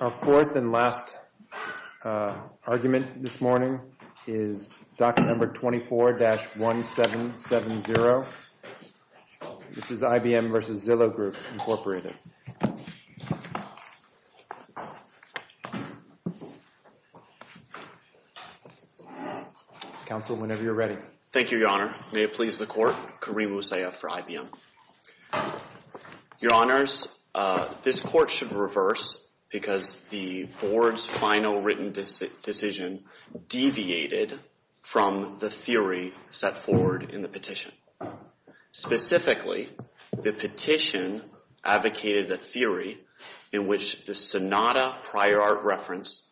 Our fourth and last argument this morning is document number 24-1770. This is IBM v. Zillow Group, Incorporated. Counsel, whenever you're ready. Thank you, Your Honor. May it please the Court. Kareem Usaiyaf for IBM. Your Honors, this Court should reverse because the Board's final written decision deviated from the theory set forward in the petition. Specifically, the petition advocated a theory in which the Sonata prior art reference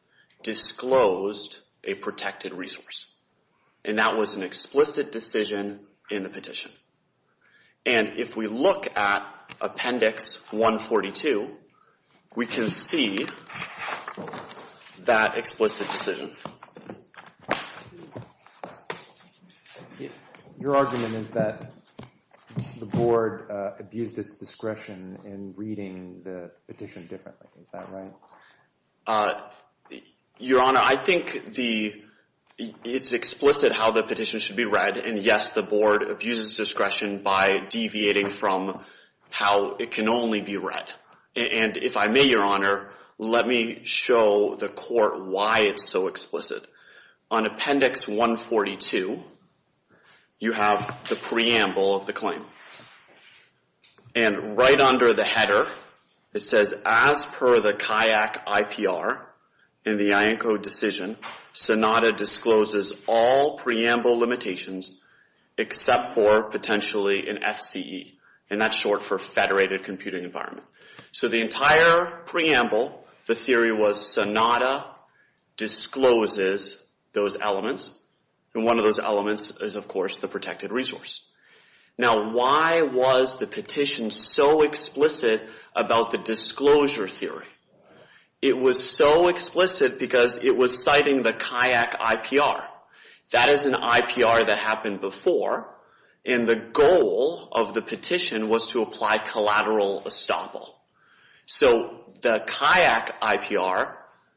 disclosed a protected resource. And that was an explicit decision in the petition. And if we look at Appendix 142, we can see that explicit decision. Your argument is that the Board abused its discretion in reading the petition differently. Is that right? Your Honor, I think it's explicit how the petition should be read. And yes, the Board abuses discretion by deviating from how it can only be read. And if I may, Your Honor, let me show the Court why it's so explicit. On Appendix 142, you have the preamble of the claim. And right under the header, it says, as per the CAIAC IPR in the IANCO decision, Sonata discloses all preamble limitations except for potentially an FCE. And that's short for Federated Computing Environment. So the entire preamble, the theory was Sonata discloses those elements. And one of those elements is, of course, the protected resource. Now, why was the petition so explicit about the disclosure theory? It was so explicit because it was citing the CAIAC IPR. That is an IPR that happened before. And the goal of the petition was to apply collateral estoppel. So the CAIAC IPR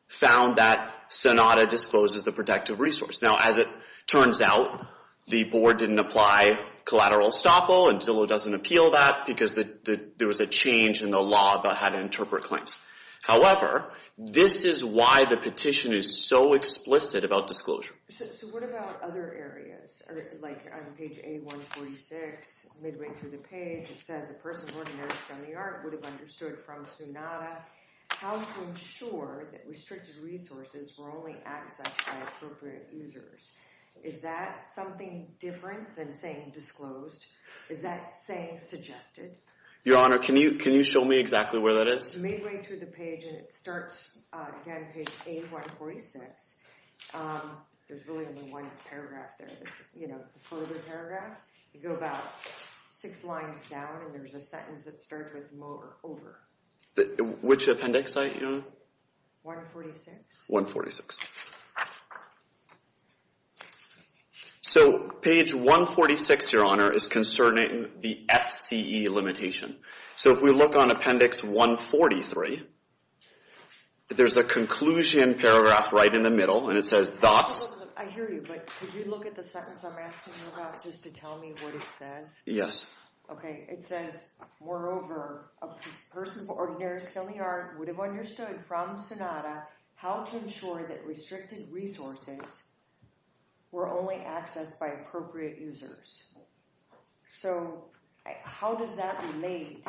found that Sonata discloses the protected resource. Now, as it turns out, the board didn't apply collateral estoppel, and Zillow doesn't appeal that because there was a change in the law about how to interpret claims. However, this is why the petition is so explicit about disclosure. So what about other areas? Like on page 8146, midway through the page, it says, the person who organized felony art would have understood from Sonata how to ensure that restricted resources were only accessed by appropriate users. Is that something different than saying disclosed? Is that saying suggested? Your Honor, can you show me exactly where that is? It's midway through the page, and it starts, again, page 8146. There's really only one paragraph there. The further paragraph, you go about six lines down, and there's a sentence that starts with over. Which appendix, Your Honor? 146. 146. So page 146, Your Honor, is concerning the FCE limitation. So if we look on appendix 143, there's a conclusion paragraph right in the middle, and it says thus. I hear you, but could you look at the sentence I'm asking you about just to tell me what it says? Yes. Okay, it says, moreover, a person who organized felony art would have understood from Sonata how to ensure that restricted resources were only accessed by appropriate users. So how does that relate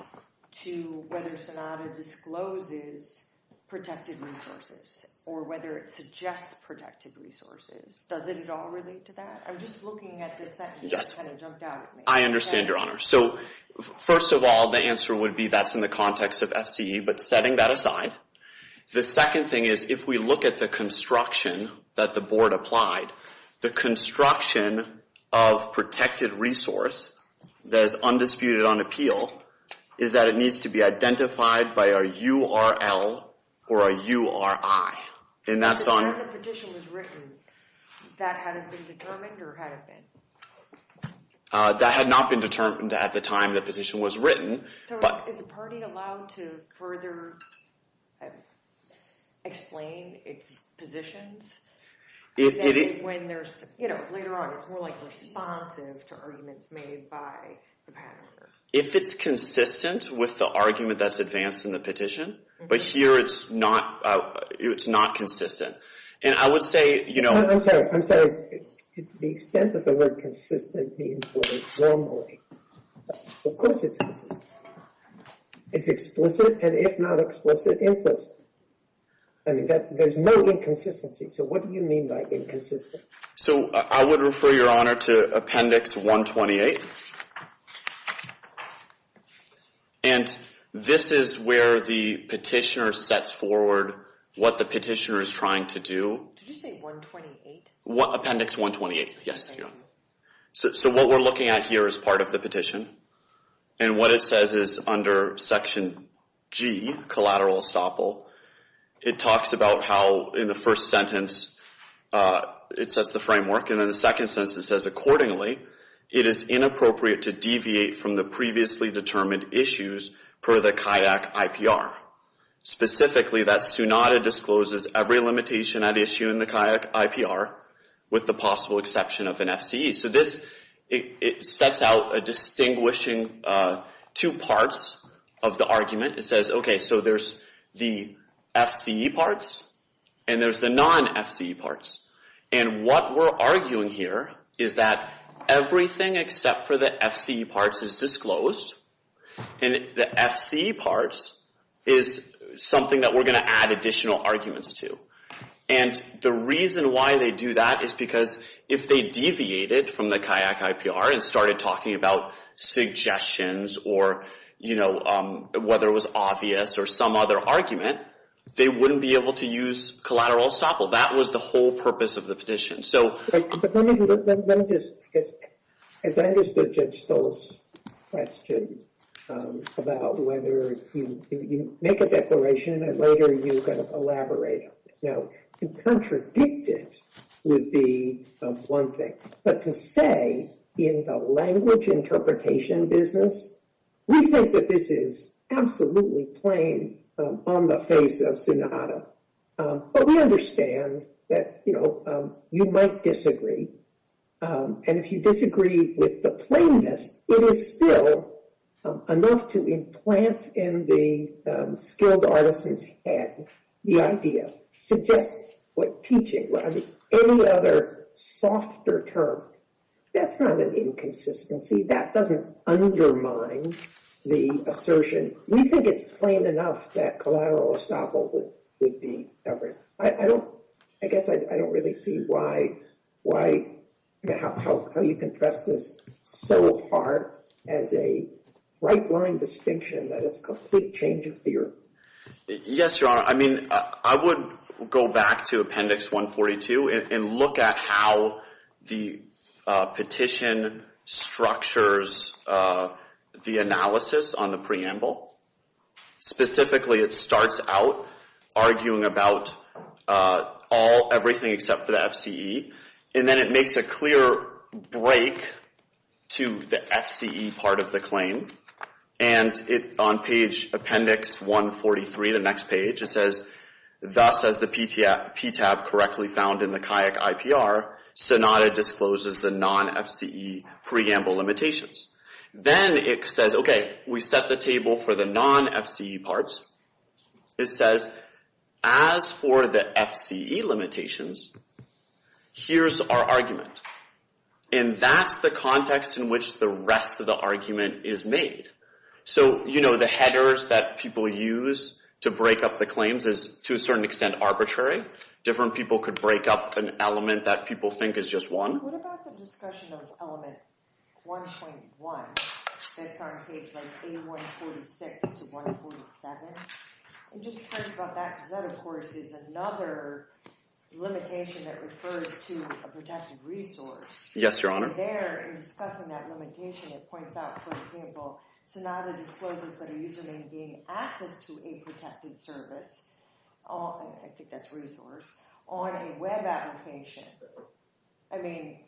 to whether Sonata discloses protected resources or whether it suggests protected resources? Doesn't it all relate to that? I'm just looking at the sentence that kind of jumped out at me. I understand, Your Honor. So first of all, the answer would be that's in the context of FCE, but setting that aside. The second thing is if we look at the construction that the board applied, the construction of protected resource that is undisputed on appeal is that it needs to be identified by a URL or a URI. And that's on The time the petition was written, that hadn't been determined or had it been? That had not been determined at the time the petition was written. So is the party allowed to further explain its positions? When there's, you know, later on, it's more like responsive to arguments made by the pattern. If it's consistent with the argument that's advanced in the petition, but here it's not, it's not consistent. And I would say, you know I'm sorry, I'm sorry. The extent of the word consistent means normally. Of course it's consistent. It's explicit, and if not explicit, implicit. And there's no inconsistency. So what do you mean by inconsistent? So I would refer Your Honor to Appendix 128. And this is where the petitioner sets forward what the petitioner is trying to do. Did you say 128? Appendix 128, yes. So what we're looking at here is part of the petition. And what it says is under Section G, Collateral Estoppel, it talks about how in the first sentence it sets the framework, and in the second sentence it says, Accordingly, it is inappropriate to deviate from the previously determined issues per the CIDAC IPR. Specifically, that SUNADA discloses every limitation at issue in the CIDAC IPR, with the possible exception of an FCE. So this, it sets out a distinguishing two parts of the argument. It says, okay, so there's the FCE parts, and there's the non-FCE parts. And what we're arguing here is that everything except for the FCE parts is disclosed, and the FCE parts is something that we're going to add additional arguments to. And the reason why they do that is because if they deviated from the CIDAC IPR and started talking about suggestions or, you know, whether it was obvious or some other argument, they wouldn't be able to use Collateral Estoppel. That was the whole purpose of the petition. But let me just, as I understood Judge Stoll's question about whether you make a declaration and later you're going to elaborate on it. Now, to contradict it would be one thing, but to say in the language interpretation business, we think that this is absolutely plain on the face of SUNADA. But we understand that, you know, you might disagree. And if you disagree with the plainness, it is still enough to implant in the skilled artisan's head the idea, suggest what teaching, any other softer term. That's not an inconsistency. That doesn't undermine the assertion. We think it's plain enough that Collateral Estoppel would be covered. I don't, I guess I don't really see why, how you can press this so hard as a right-wing distinction that it's a complete change of theory. Yes, Your Honor. I mean, I would go back to Appendix 142 and look at how the petition structures the analysis on the preamble. Specifically, it starts out arguing about all, everything except for the FCE. And then it makes a clear break to the FCE part of the claim. And it, on page Appendix 143, the next page, it says, thus as the PTAB correctly found in the CAYAC IPR, SUNADA discloses the non-FCE preamble limitations. Then it says, okay, we set the table for the non-FCE parts. It says, as for the FCE limitations, here's our argument. And that's the context in which the rest of the argument is made. So, you know, the headers that people use to break up the claims is, to a certain extent, arbitrary. Different people could break up an element that people think is just one. What about the discussion of element 1.1 that's on page, like, A146 to 147? I'm just curious about that, because that, of course, is another limitation that refers to a protected resource. Yes, Your Honor. And there, in discussing that limitation, it points out, for example, SUNADA discloses that a user may gain access to a protected service, I think that's resource, on a web application. I mean,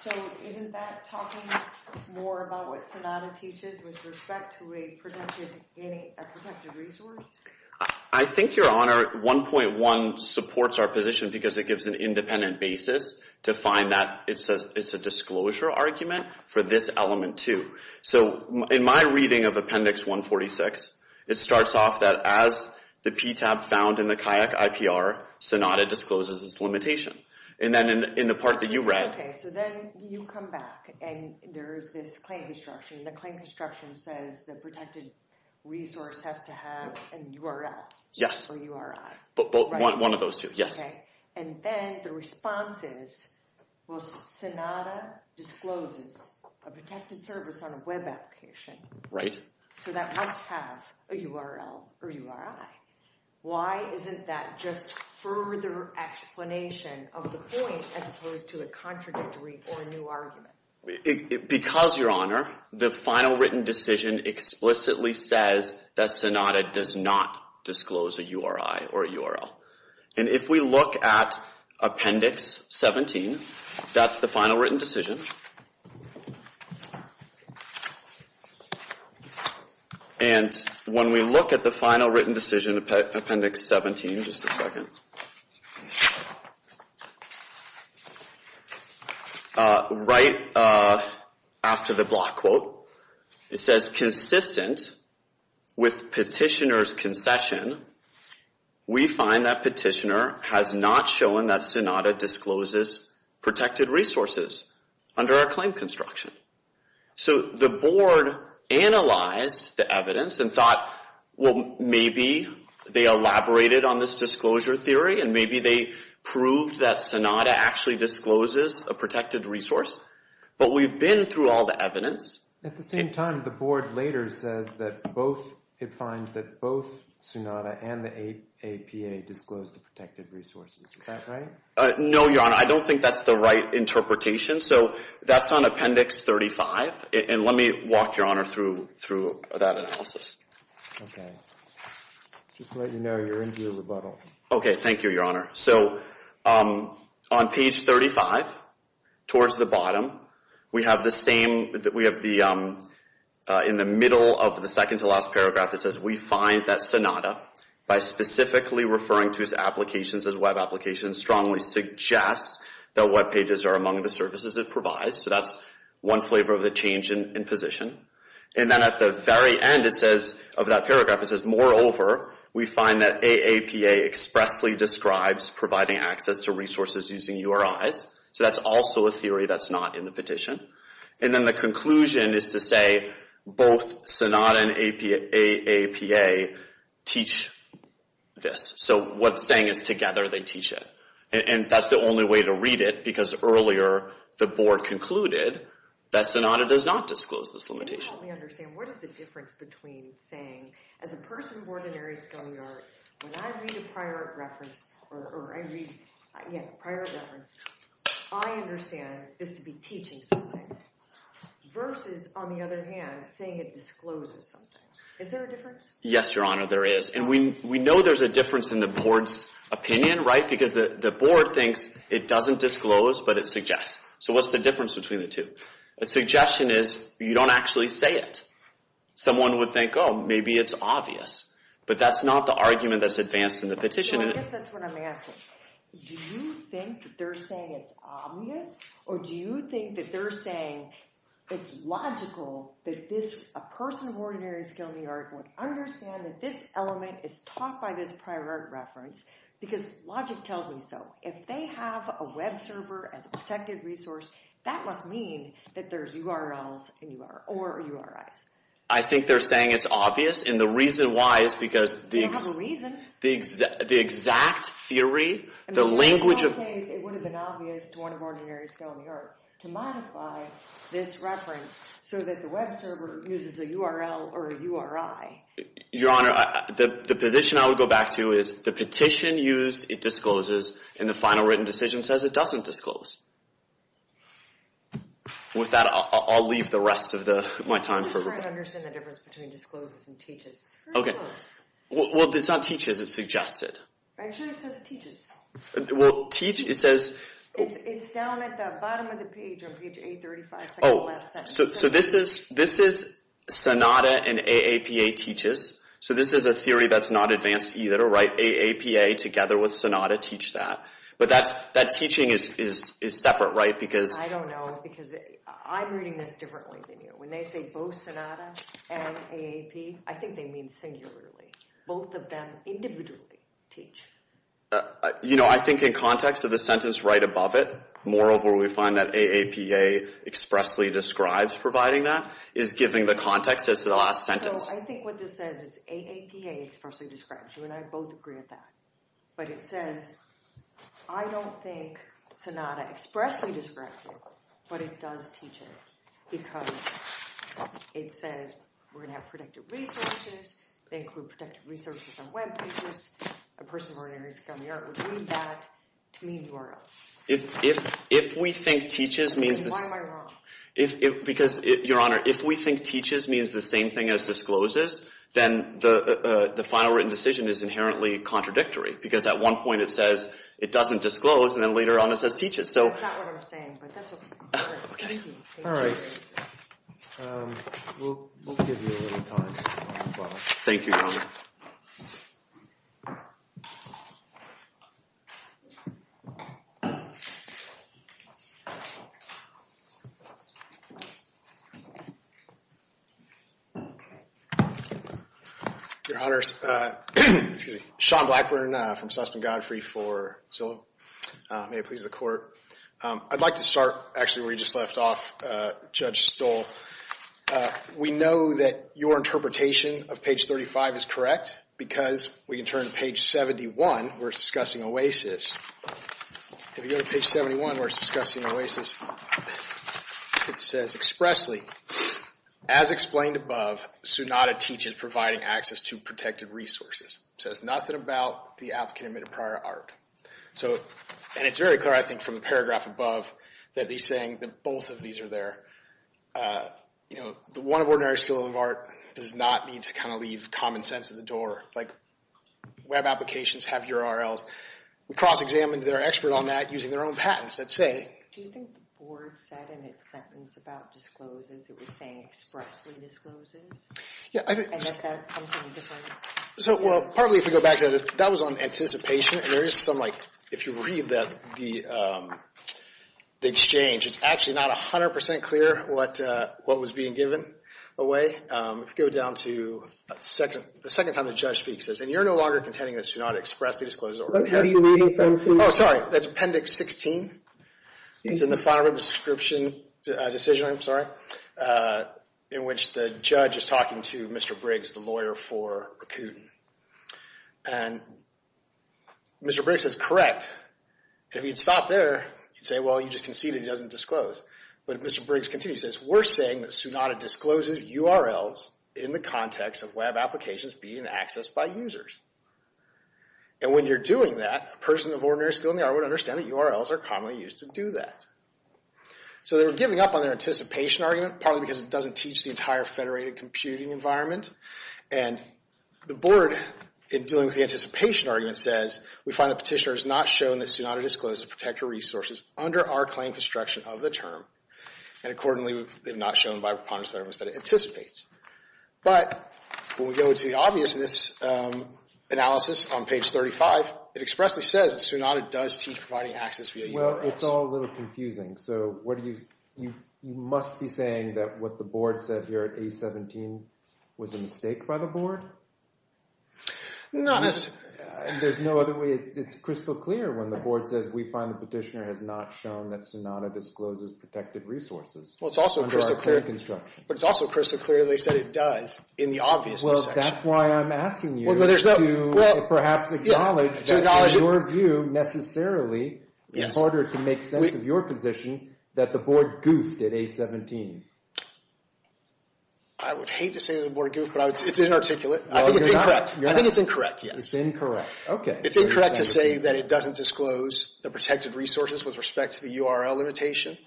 so isn't that talking more about what SUNADA teaches with respect to a protected resource? I think, Your Honor, 1.1 supports our position because it gives an independent basis to find that it's a disclosure argument for this element, too. So, in my reading of appendix 146, it starts off that as the PTAB found in the CAYAC IPR, SUNADA discloses this limitation. And then, in the part that you read... Okay, so then you come back, and there's this claim construction. The claim construction says the protected resource has to have a URL or URI. One of those two, yes. And then the response is, well, SUNADA discloses a protected service on a web application. So that must have a URL or URI. Why isn't that just further explanation of the point as opposed to a contradictory or new argument? Because, Your Honor, the final written decision explicitly says that SUNADA does not disclose a URI or a URL. And if we look at appendix 17, that's the final written decision. And when we look at the final written decision, appendix 17, just a second. Right after the block quote, it says, consistent with petitioner's concession, we find that petitioner has not shown that SUNADA discloses protected resources under our claim construction. So the board analyzed the evidence and thought, well, maybe they elaborated on this disclosure theory, and maybe they proved that SUNADA actually discloses a protected resource. But we've been through all the evidence. At the same time, the board later says that both, it finds that both SUNADA and the APA disclose the protected resources. Is that right? No, Your Honor. I don't think that's the right interpretation. So that's on appendix 35. And let me walk, Your Honor, through that analysis. Okay. Just to let you know, you're into a rebuttal. Okay, thank you, Your Honor. So on page 35, towards the bottom, we have the same, we have the, in the middle of the second to last paragraph, it says we find that SUNADA, by specifically referring to its applications as web applications, strongly suggests that web pages are among the services it provides. So that's one flavor of the change in position. And then at the very end, it says, of that paragraph, it says, moreover, we find that AAPA expressly describes providing access to resources using URIs. So that's also a theory that's not in the petition. And then the conclusion is to say both SUNADA and AAPA teach this. So what it's saying is together they teach it. And that's the only way to read it, because earlier the board concluded that SUNADA does not disclose this limitation. Can you help me understand? What is the difference between saying, as a person born in Aries County, when I read a prior reference, or I read, yeah, prior reference, I understand this would be teaching something, versus, on the other hand, saying it discloses something. Is there a difference? Yes, Your Honor, there is. And we know there's a difference in the board's opinion, right? Because the board thinks it doesn't disclose, but it suggests. So what's the difference between the two? A suggestion is you don't actually say it. Someone would think, oh, maybe it's obvious. But that's not the argument that's advanced in the petition. So I guess that's what I'm asking. Do you think that they're saying it's obvious, or do you think that they're saying it's logical that a person of ordinary skill in the art would understand that this element is taught by this prior art reference, because logic tells me so. If they have a web server as a protected resource, that must mean that there's URLs or URIs. I think they're saying it's obvious, and the reason why is because the exact theory, the language of— It would have been obvious to one of ordinary skill in the art to modify this reference so that the web server uses a URL or a URI. Your Honor, the position I would go back to is the petition used, it discloses, and the final written decision says it doesn't disclose. With that, I'll leave the rest of my time for— I'm just trying to understand the difference between discloses and teaches. Well, it's not teaches. It's suggested. Actually, it says teaches. Well, teaches, it says— It's down at the bottom of the page on page 835. So this is Sonata and AAPA teaches. So this is a theory that's not advanced either, right? AAPA together with Sonata teach that. But that teaching is separate, right? I don't know, because I'm reading this differently than you. When they say both Sonata and AAP, I think they mean singularly. Both of them individually teach. I think in context of the sentence right above it, moreover, we find that AAPA expressly describes providing that, is giving the context as to the last sentence. So I think what this says is AAPA expressly describes. You and I both agree with that. But it says, I don't think Sonata expressly describes it, but it does teach it. Because it says we're going to have protected resources. They include protected resources on web pages. A person of ordinary skill and the art would read that to mean URLs. If we think teaches means this. Why am I wrong? Because, Your Honor, if we think teaches means the same thing as discloses, then the final written decision is inherently contradictory. Because at one point it says it doesn't disclose, and then later on it says teaches. That's not what I'm saying, but that's okay. Thank you. All right. We'll give you a little time. Thank you, Your Honor. Your Honor, Sean Blackburn from Sussman Godfrey for Zillow. May it please the Court. I'd like to start, actually, where you just left off, Judge Stoll. We know that your interpretation of page 35 is correct, because we can turn to page 71. We're discussing OASIS. If you go to page 71, we're discussing OASIS. It says expressly, As explained above, SUNADA teaches providing access to protected resources. It says nothing about the applicant admitted prior art. And it's very clear, I think, from the paragraph above, that he's saying that both of these are there. The one of ordinary skill and the art does not mean to kind of leave common sense at the door. Like, web applications have URLs. We cross-examined their expert on that using their own patents that say, Do you think the board said in its sentence about discloses, it was saying expressly discloses? Yeah. And if that's something different? So, well, partly if we go back to that, that was on anticipation. And there is some, like, if you read the exchange, it's actually not 100% clear what was being given away. If you go down to the second time the judge speaks, and you're no longer contending that SUNADA expressly discloses. Oh, sorry. That's Appendix 16. It's in the final description decision, I'm sorry, in which the judge is talking to Mr. Briggs, the lawyer for Rakuten. And Mr. Briggs is correct. If he had stopped there, he'd say, well, you just conceded he doesn't disclose. But if Mr. Briggs continues, he says, we're saying that SUNADA discloses URLs in the context of web applications being accessed by users. And when you're doing that, a person of ordinary skill in the art would understand that URLs are commonly used to do that. So they were giving up on their anticipation argument, partly because it doesn't teach the entire federated computing environment. And the board, in dealing with the anticipation argument, says, We find the petitioner has not shown that SUNADA discloses protected resources under our claim construction of the term. And accordingly, they've not shown by preponderance that it anticipates. But when we go to the obviousness analysis on page 35, it expressly says that SUNADA does teach providing access via URLs. Well, it's all a little confusing. So you must be saying that what the board said here at A17 was a mistake by the board? Not necessarily. There's no other way. It's crystal clear when the board says, We find the petitioner has not shown that SUNADA discloses protected resources under our claim construction. But it's also crystal clear they said it does in the obviousness section. Well, that's why I'm asking you to perhaps acknowledge that in your view, necessarily, in order to make sense of your position, that the board goofed at A17. I would hate to say the board goofed, but it's inarticulate. I think it's incorrect. It's incorrect. Okay. It's incorrect to say that it doesn't disclose the protected resources with respect to the URL limitation.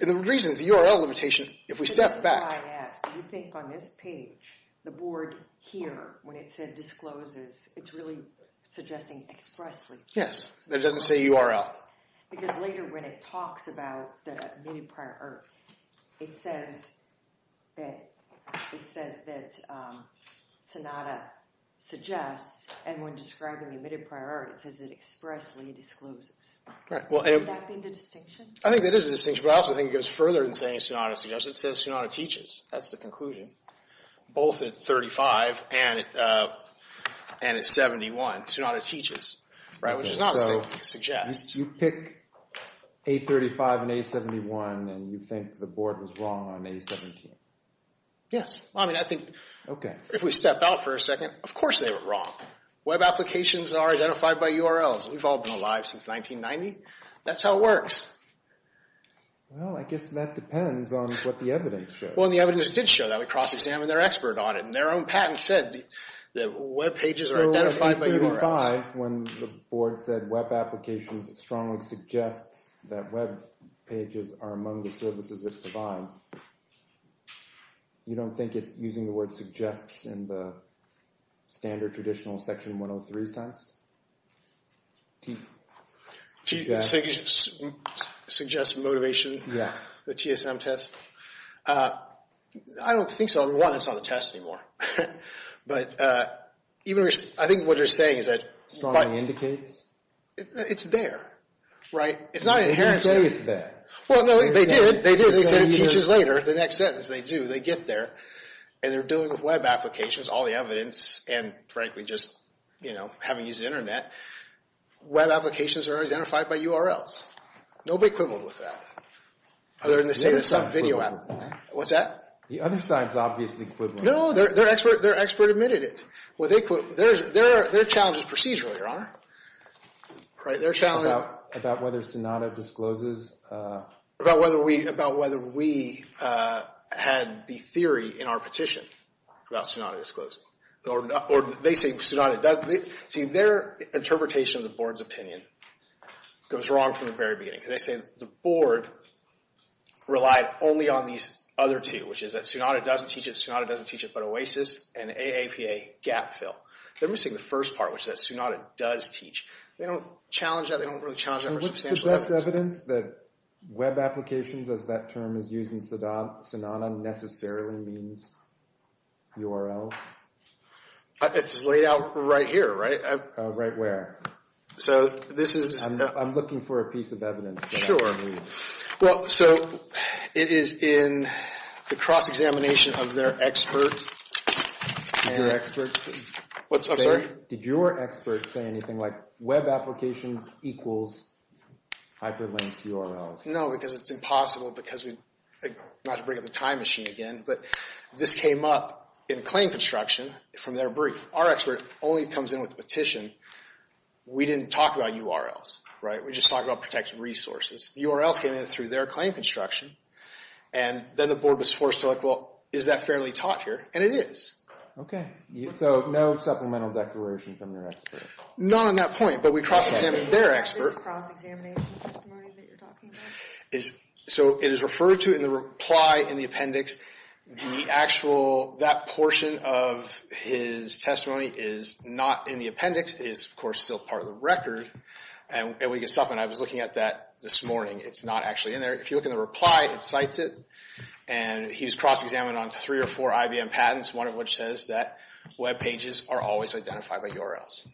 And the reason is the URL limitation, if we step back. This is why I ask. Do you think on this page, the board here, when it said discloses, it's really suggesting expressly? Yes, that it doesn't say URL. Because later when it talks about the nitty-gritty, it says that SUNADA suggests, and when describing the omitted priorities, it says it expressly discloses. Would that be the distinction? I think that is the distinction, but I also think it goes further than saying SUNADA suggests. It says SUNADA teaches. That's the conclusion. Both at 35 and at 71, SUNADA teaches, which is not what it suggests. So you pick A35 and A71, and you think the board was wrong on A17? Yes. I mean, I think, if we step out for a second, of course they were wrong. Web applications are identified by URLs. We've all been alive since 1990. That's how it works. Well, I guess that depends on what the evidence shows. Well, and the evidence did show that. We cross-examined their expert audit, and their own patent said that web pages are identified by URLs. Well, at A35, when the board said web applications, it strongly suggests that web pages are among the services it provides. You don't think it's using the word suggests in the standard traditional Section 103 sense? Suggests motivation? The TSM test? I don't think so. One, it's not a test anymore. But I think what you're saying is that… Strongly indicates? It's there, right? You say it's there. Well, no, they did. They did. They said it teaches later, the next sentence. They do. They get there. And they're dealing with web applications, all the evidence, and frankly, just, you know, having used the Internet. Web applications are identified by URLs. Nobody quibbled with that, other than to say it's some video app. What's that? The other side is obviously quibbling. No, their expert admitted it. Their challenge is procedural, Your Honor. About whether Sonata discloses… About whether we had the theory in our petition about Sonata disclosing. Or they say Sonata doesn't. See, their interpretation of the Board's opinion goes wrong from the very beginning. Because they say the Board relied only on these other two, which is that Sonata doesn't teach it, Sonata doesn't teach it, but OASIS and AAPA gap fill. They're missing the first part, which is that Sonata does teach. They don't challenge that. They don't really challenge that for substantial evidence. The evidence that web applications, as that term is used in Sonata, necessarily means URLs. It's laid out right here, right? Right where? So this is… I'm looking for a piece of evidence that I can use. Well, so it is in the cross-examination of their expert… Your experts? I'm sorry? Did your experts say anything like web applications equals hyperlinked URLs? No, because it's impossible because we… not to bring up the time machine again, but this came up in claim construction from their brief. Our expert only comes in with a petition. We didn't talk about URLs, right? We just talked about protected resources. URLs came in through their claim construction. And then the Board was forced to look, well, is that fairly taught here? And it is. Okay. So no supplemental declaration from your expert? Not on that point, but we cross-examined their expert. Is this cross-examination testimony that you're talking about? So it is referred to in the reply in the appendix. The actual… that portion of his testimony is not in the appendix. It is, of course, still part of the record. And we can stop. And I was looking at that this morning. It's not actually in there. If you look in the reply, it cites it. And he was cross-examined on three or four IBM patents, one of which says that web pages are always identified by URLs.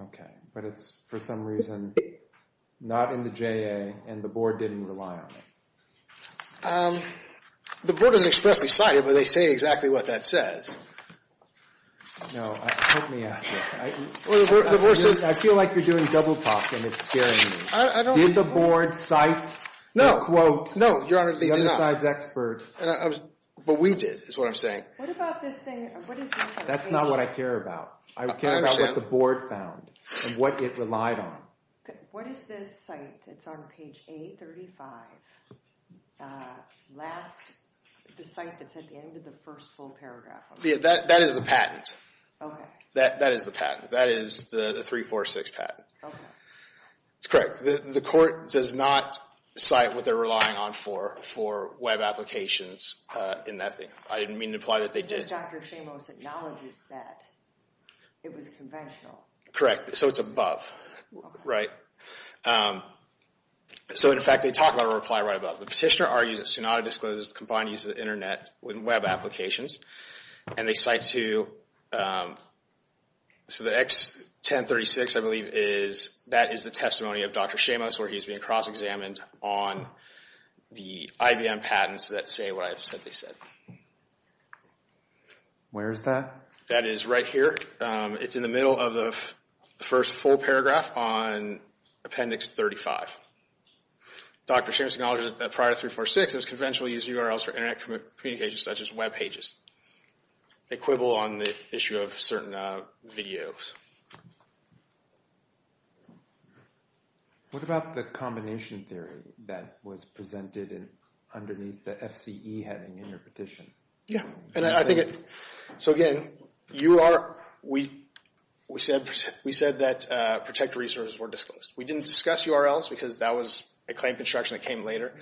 Okay. But it's for some reason not in the JA, and the Board didn't rely on it. The Board doesn't expressly cite it, but they say exactly what that says. No. Help me out here. I feel like you're doing double talk, and it's scaring me. Did the Board cite the quote? No, Your Honor, they did not. The other side's expert. But we did, is what I'm saying. That's not what I care about. I care about what the Board found, and what it relied on. What is this cite that's on page 835? Last… the cite that's at the end of the first full paragraph. That is the patent. Okay. That is the patent. That is the 346 patent. Okay. It's correct. The court does not cite what they're relying on for for web applications in that thing. I didn't mean to imply that they did. Since Dr. Shamos acknowledges that, it was conventional. Correct. So it's above. Right. So, in fact, they talk about a reply right above. The petitioner argues that SUNADA discloses the combined use of the Internet with web applications, and they cite to… So the X1036, I believe, is… Dr. Shamos argues being cross-examined on the IBM patents that say what I said they said. Where is that? That is right here. It's in the middle of the first full paragraph on Appendix 35. Dr. Shamos acknowledges that prior to 346, it was conventional to use URLs for Internet communications such as web pages. Equivalent on the issue of certain videos. What about the combination theory that was presented underneath the FCE heading in your petition? So, again, we said that protected resources were disclosed. We didn't discuss URLs because that was a claim construction that came later.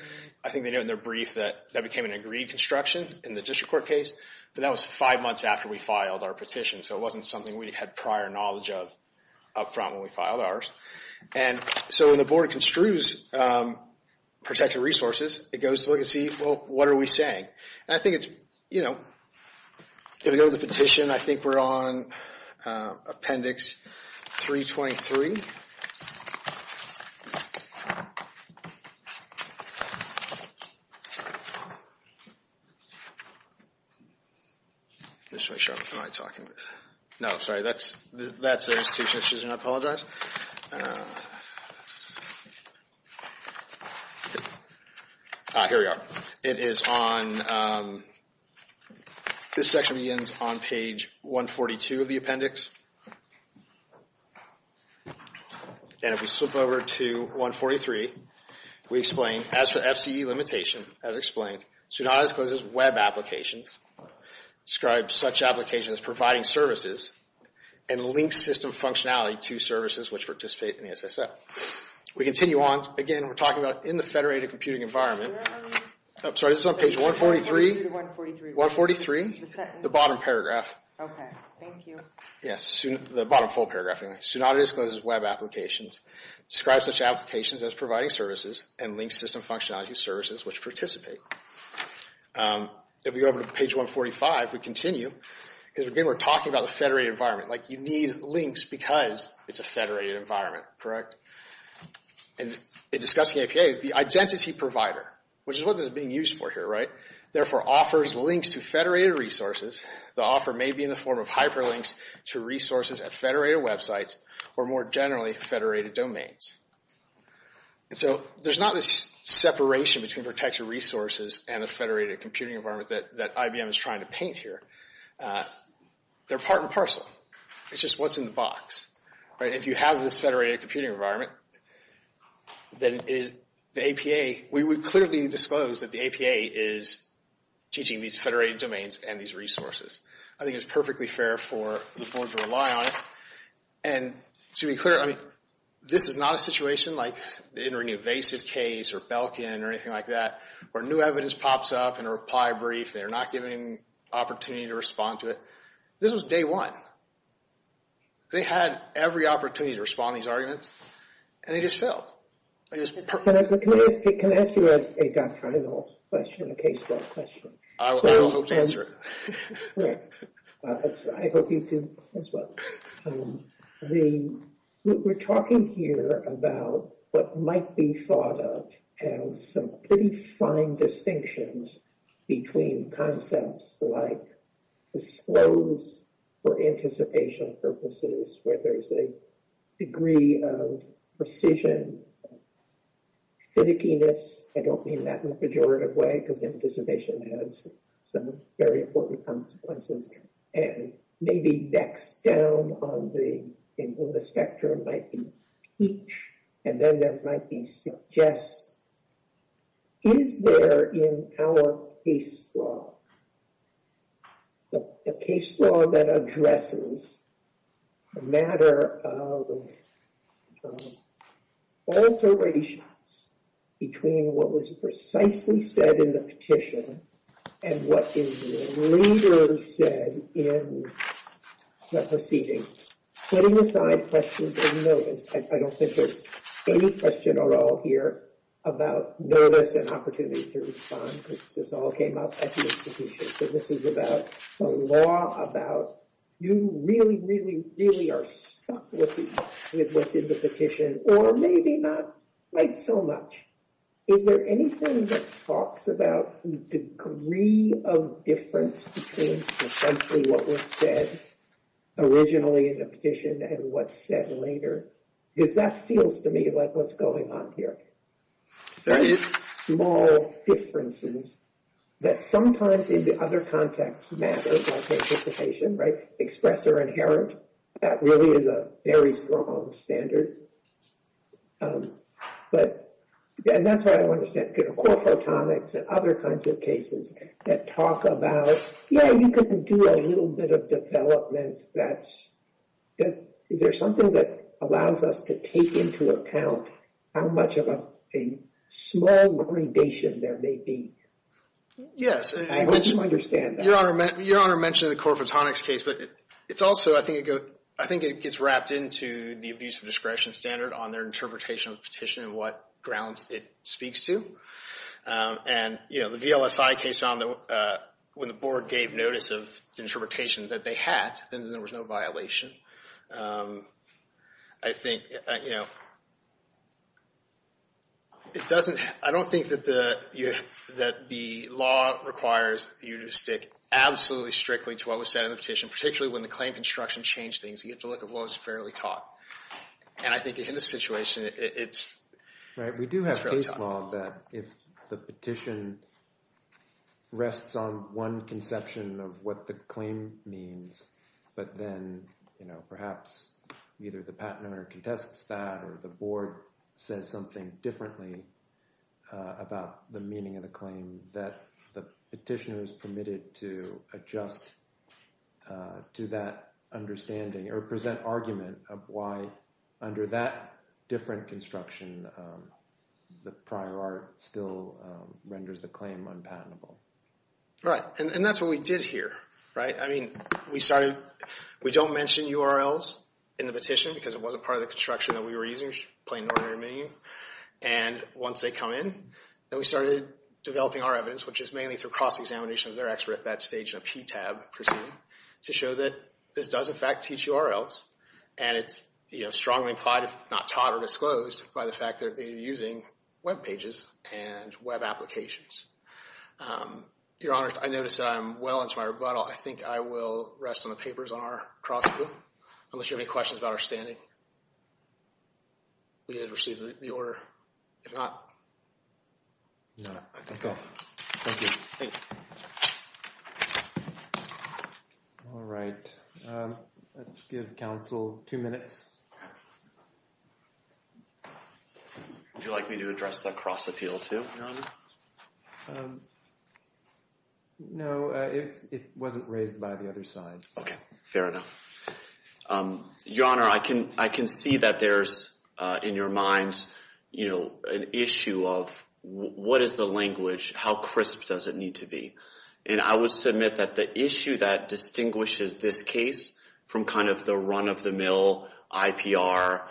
I think they know in their brief that that became an agreed construction in the district court case, but that was five months after we filed our petition, so it wasn't something we had prior knowledge of up front when we filed ours. And so when the board construes protected resources, it goes to look and see, well, what are we saying? And I think it's, you know, if we go to the petition, I think we're on Appendix 323. No, sorry, that's their institution. Excuse me, I apologize. I'm sorry. Here we are. It is on, this section begins on page 142 of the appendix. And if we slip over to 143, we explain, as for FCE limitation, as explained, Sudan has closed its web applications, described such applications as providing services, and linked system functionality to services which participate in the SSL. We continue on. Again, we're talking about in the federated computing environment. I'm sorry, this is on page 143. 143. The bottom paragraph. Okay, thank you. Yes, the bottom full paragraph. Sudan has closed its web applications, described such applications as providing services, and linked system functionality to services which participate. If we go over to page 145, we continue, because again, we're talking about the federated environment. Like, you need links because it's a federated environment, correct? In discussing APA, the identity provider, which is what this is being used for here, right, therefore offers links to federated resources. The offer may be in the form of hyperlinks to resources at federated websites or more generally, federated domains. And so, there's not this separation between protected resources and a federated computing environment that IBM is trying to paint here. They're part and parcel. It's just what's in the box. If you have this federated computing environment, then it is, the APA, we would clearly disclose that the APA is teaching these federated domains and these resources. I think it's perfectly fair for the board to rely on it. And, to be clear, I mean, this is not a situation like in an invasive case or Belkin or anything like that where new evidence pops up in a reply brief and they're not given an opportunity to respond to it. This was day one. They had every opportunity to respond to these arguments and they just failed. Can I ask you a doctrinal question, a case-by-case question? I will hope to answer it. I hope you do as well. We're talking here about what might be thought of as some pretty fine distinctions between concepts like disclose for anticipation purposes, where there's a degree of precision, finickiness, I don't mean that in a pejorative way, because anticipation has some very important consequences, and maybe next down on the spectrum might be teach, and then there might be suggest. Is there in our case law, a case law that addresses the matter of alterations between what was precisely said in the petition and what the leader said in the proceeding, putting aside questions of notice? I don't think there's any question at all here about notice and opportunity to respond, because this all came up at the institution. This is about the law, about you really, really, really are stuck with what's in the petition, or maybe not quite so much. Is there anything that talks about the degree of difference between essentially what was said originally in the petition and what's said later? Because that feels to me like what's going on here. There is small differences that sometimes in the other context matters like anticipation, right? Express or inherent, that really is a very strong standard. But, and that's why I want to say core photonics and other kinds of cases that talk about, you know, you could do a little bit of development that, is there something that allows us to take into account how much of a small gradation there may be? Yes. I hope you understand that. Your Honor mentioned the core photonics case, but it's also, I think it goes, I think it gets wrapped into the abuse of discretion standard on their interpretation of the petition and what grounds it speaks to. And, you know, the VLSI case found that when the board gave notice of the interpretation that they had, then there was no violation. I think, you know, it doesn't, I don't think that the, that the law requires you to stick absolutely strictly to what was said in the petition, particularly when the claim construction changed things. You have to look at what was fairly taught. And I think in this situation, it's, Right, we do have case law that if the petition rests on one conception of what the claim means, but then, you know, perhaps either the patenter contests that or the board says something differently about the meaning of the claim that the petitioner is permitted to adjust to that understanding or present argument of why under that different construction, the prior art still renders the claim unpatentable. Right, and that's what we did here, right? I mean, we started, we don't mention URLs in the petition because it wasn't part of the construction that we were using, plain and ordinary meaning. And once they come in, then we started developing our evidence, which is mainly through cross-examination of their expert at that stage in a PTAB proceeding to show that this does in fact teach URLs and it's, you know, strongly implied if not taught or disclosed by the fact that they're using web pages and web applications. Your Honor, I notice that I'm well into my rebuttal. I think I will rest on the papers on our cross-examination unless you have any questions about our standing. We did receive the order. If not... No, I think I'll... Thank you. Thank you. All right. Let's give counsel two minutes. Would you like me to address the cross-appeal too, Your Honor? No, it wasn't raised by the other side. Okay, fair enough. Your Honor, I can see that there's in your minds, you know, an issue of what is the language, how crisp does it need to be? And I would submit that the issue that distinguishes this case from kind of the run-of-the-mill IPR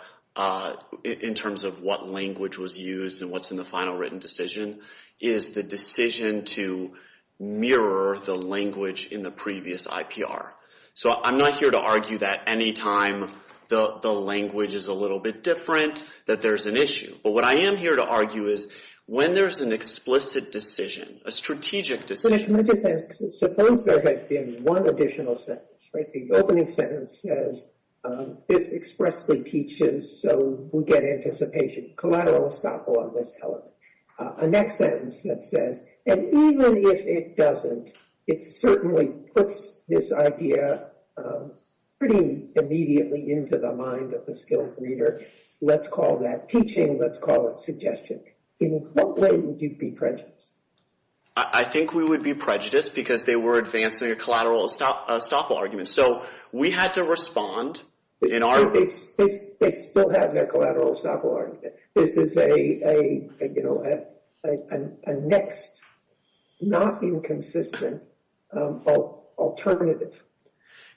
in terms of what language was used and what's in the final written decision is the decision to mirror the language in the previous IPR. So I'm not here to argue that any time the language is a little bit different that there's an issue. But what I am here to argue is when there's an explicit decision, a strategic decision... Let me just ask, suppose there had been one additional sentence. The opening sentence says, this expressly teaches so we get anticipation. Collateral will stop along this element. A next sentence that says, and even if it doesn't, it certainly puts this idea pretty immediately into the mind of the skilled reader. Let's call that teaching. Let's call it suggestion. In what way would you be prejudiced? I think we would be prejudiced because they were advancing a collateral estoppel argument. So we had to respond in our... They still have their collateral estoppel argument. This is a next, not inconsistent alternative.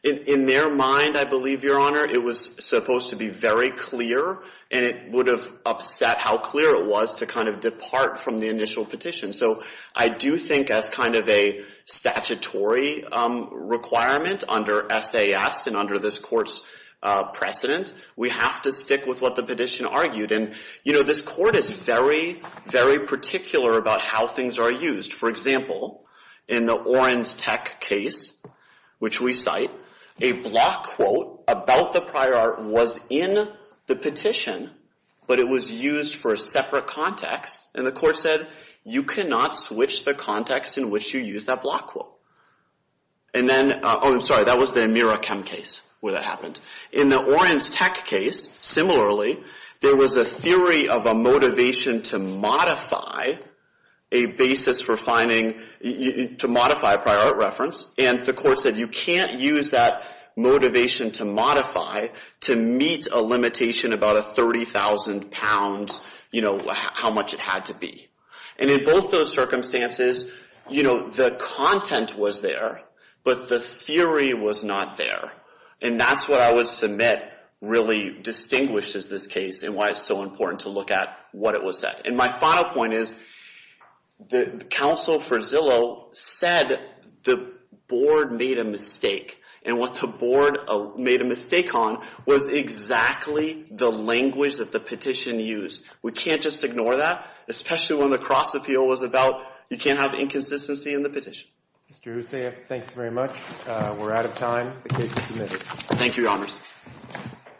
In their mind, I believe, Your Honor, it was supposed to be very clear and it would have upset how clear it was to kind of depart from the initial petition. So I do think as kind of a statutory requirement under SAS and under this court's precedent, we have to stick with what the petition argued and this court is very, very particular about how things are used. For example, in the Orenstech case, which we cite, a block quote about the prior art was in the petition, but it was used for a separate context and the court said, you cannot switch the context in which you use that block quote. And then, oh, I'm sorry, that was the Amirakam case where that happened. In the Orenstech case, similarly, there was a theory of a motivation to modify a basis for finding, to modify a prior art reference and the court said, you can't use that motivation to modify to meet a limitation about a 30,000 pounds, you know, how much it had to be. And in both those circumstances, you know, the content was there, but the theory was not there. And that's what I would submit really distinguishes this case and why it's so important to look at what it was said. And my final point is, the counsel for Zillow said the board made a mistake and what the board made a mistake on was exactly the language that the petition used. We can't just ignore that, especially when the cross-appeal was about you can't have inconsistency in the petition. Mr. Husseyev, thanks very much. We're out of time. The case is submitted. Thank you, Your Honors. Thank you.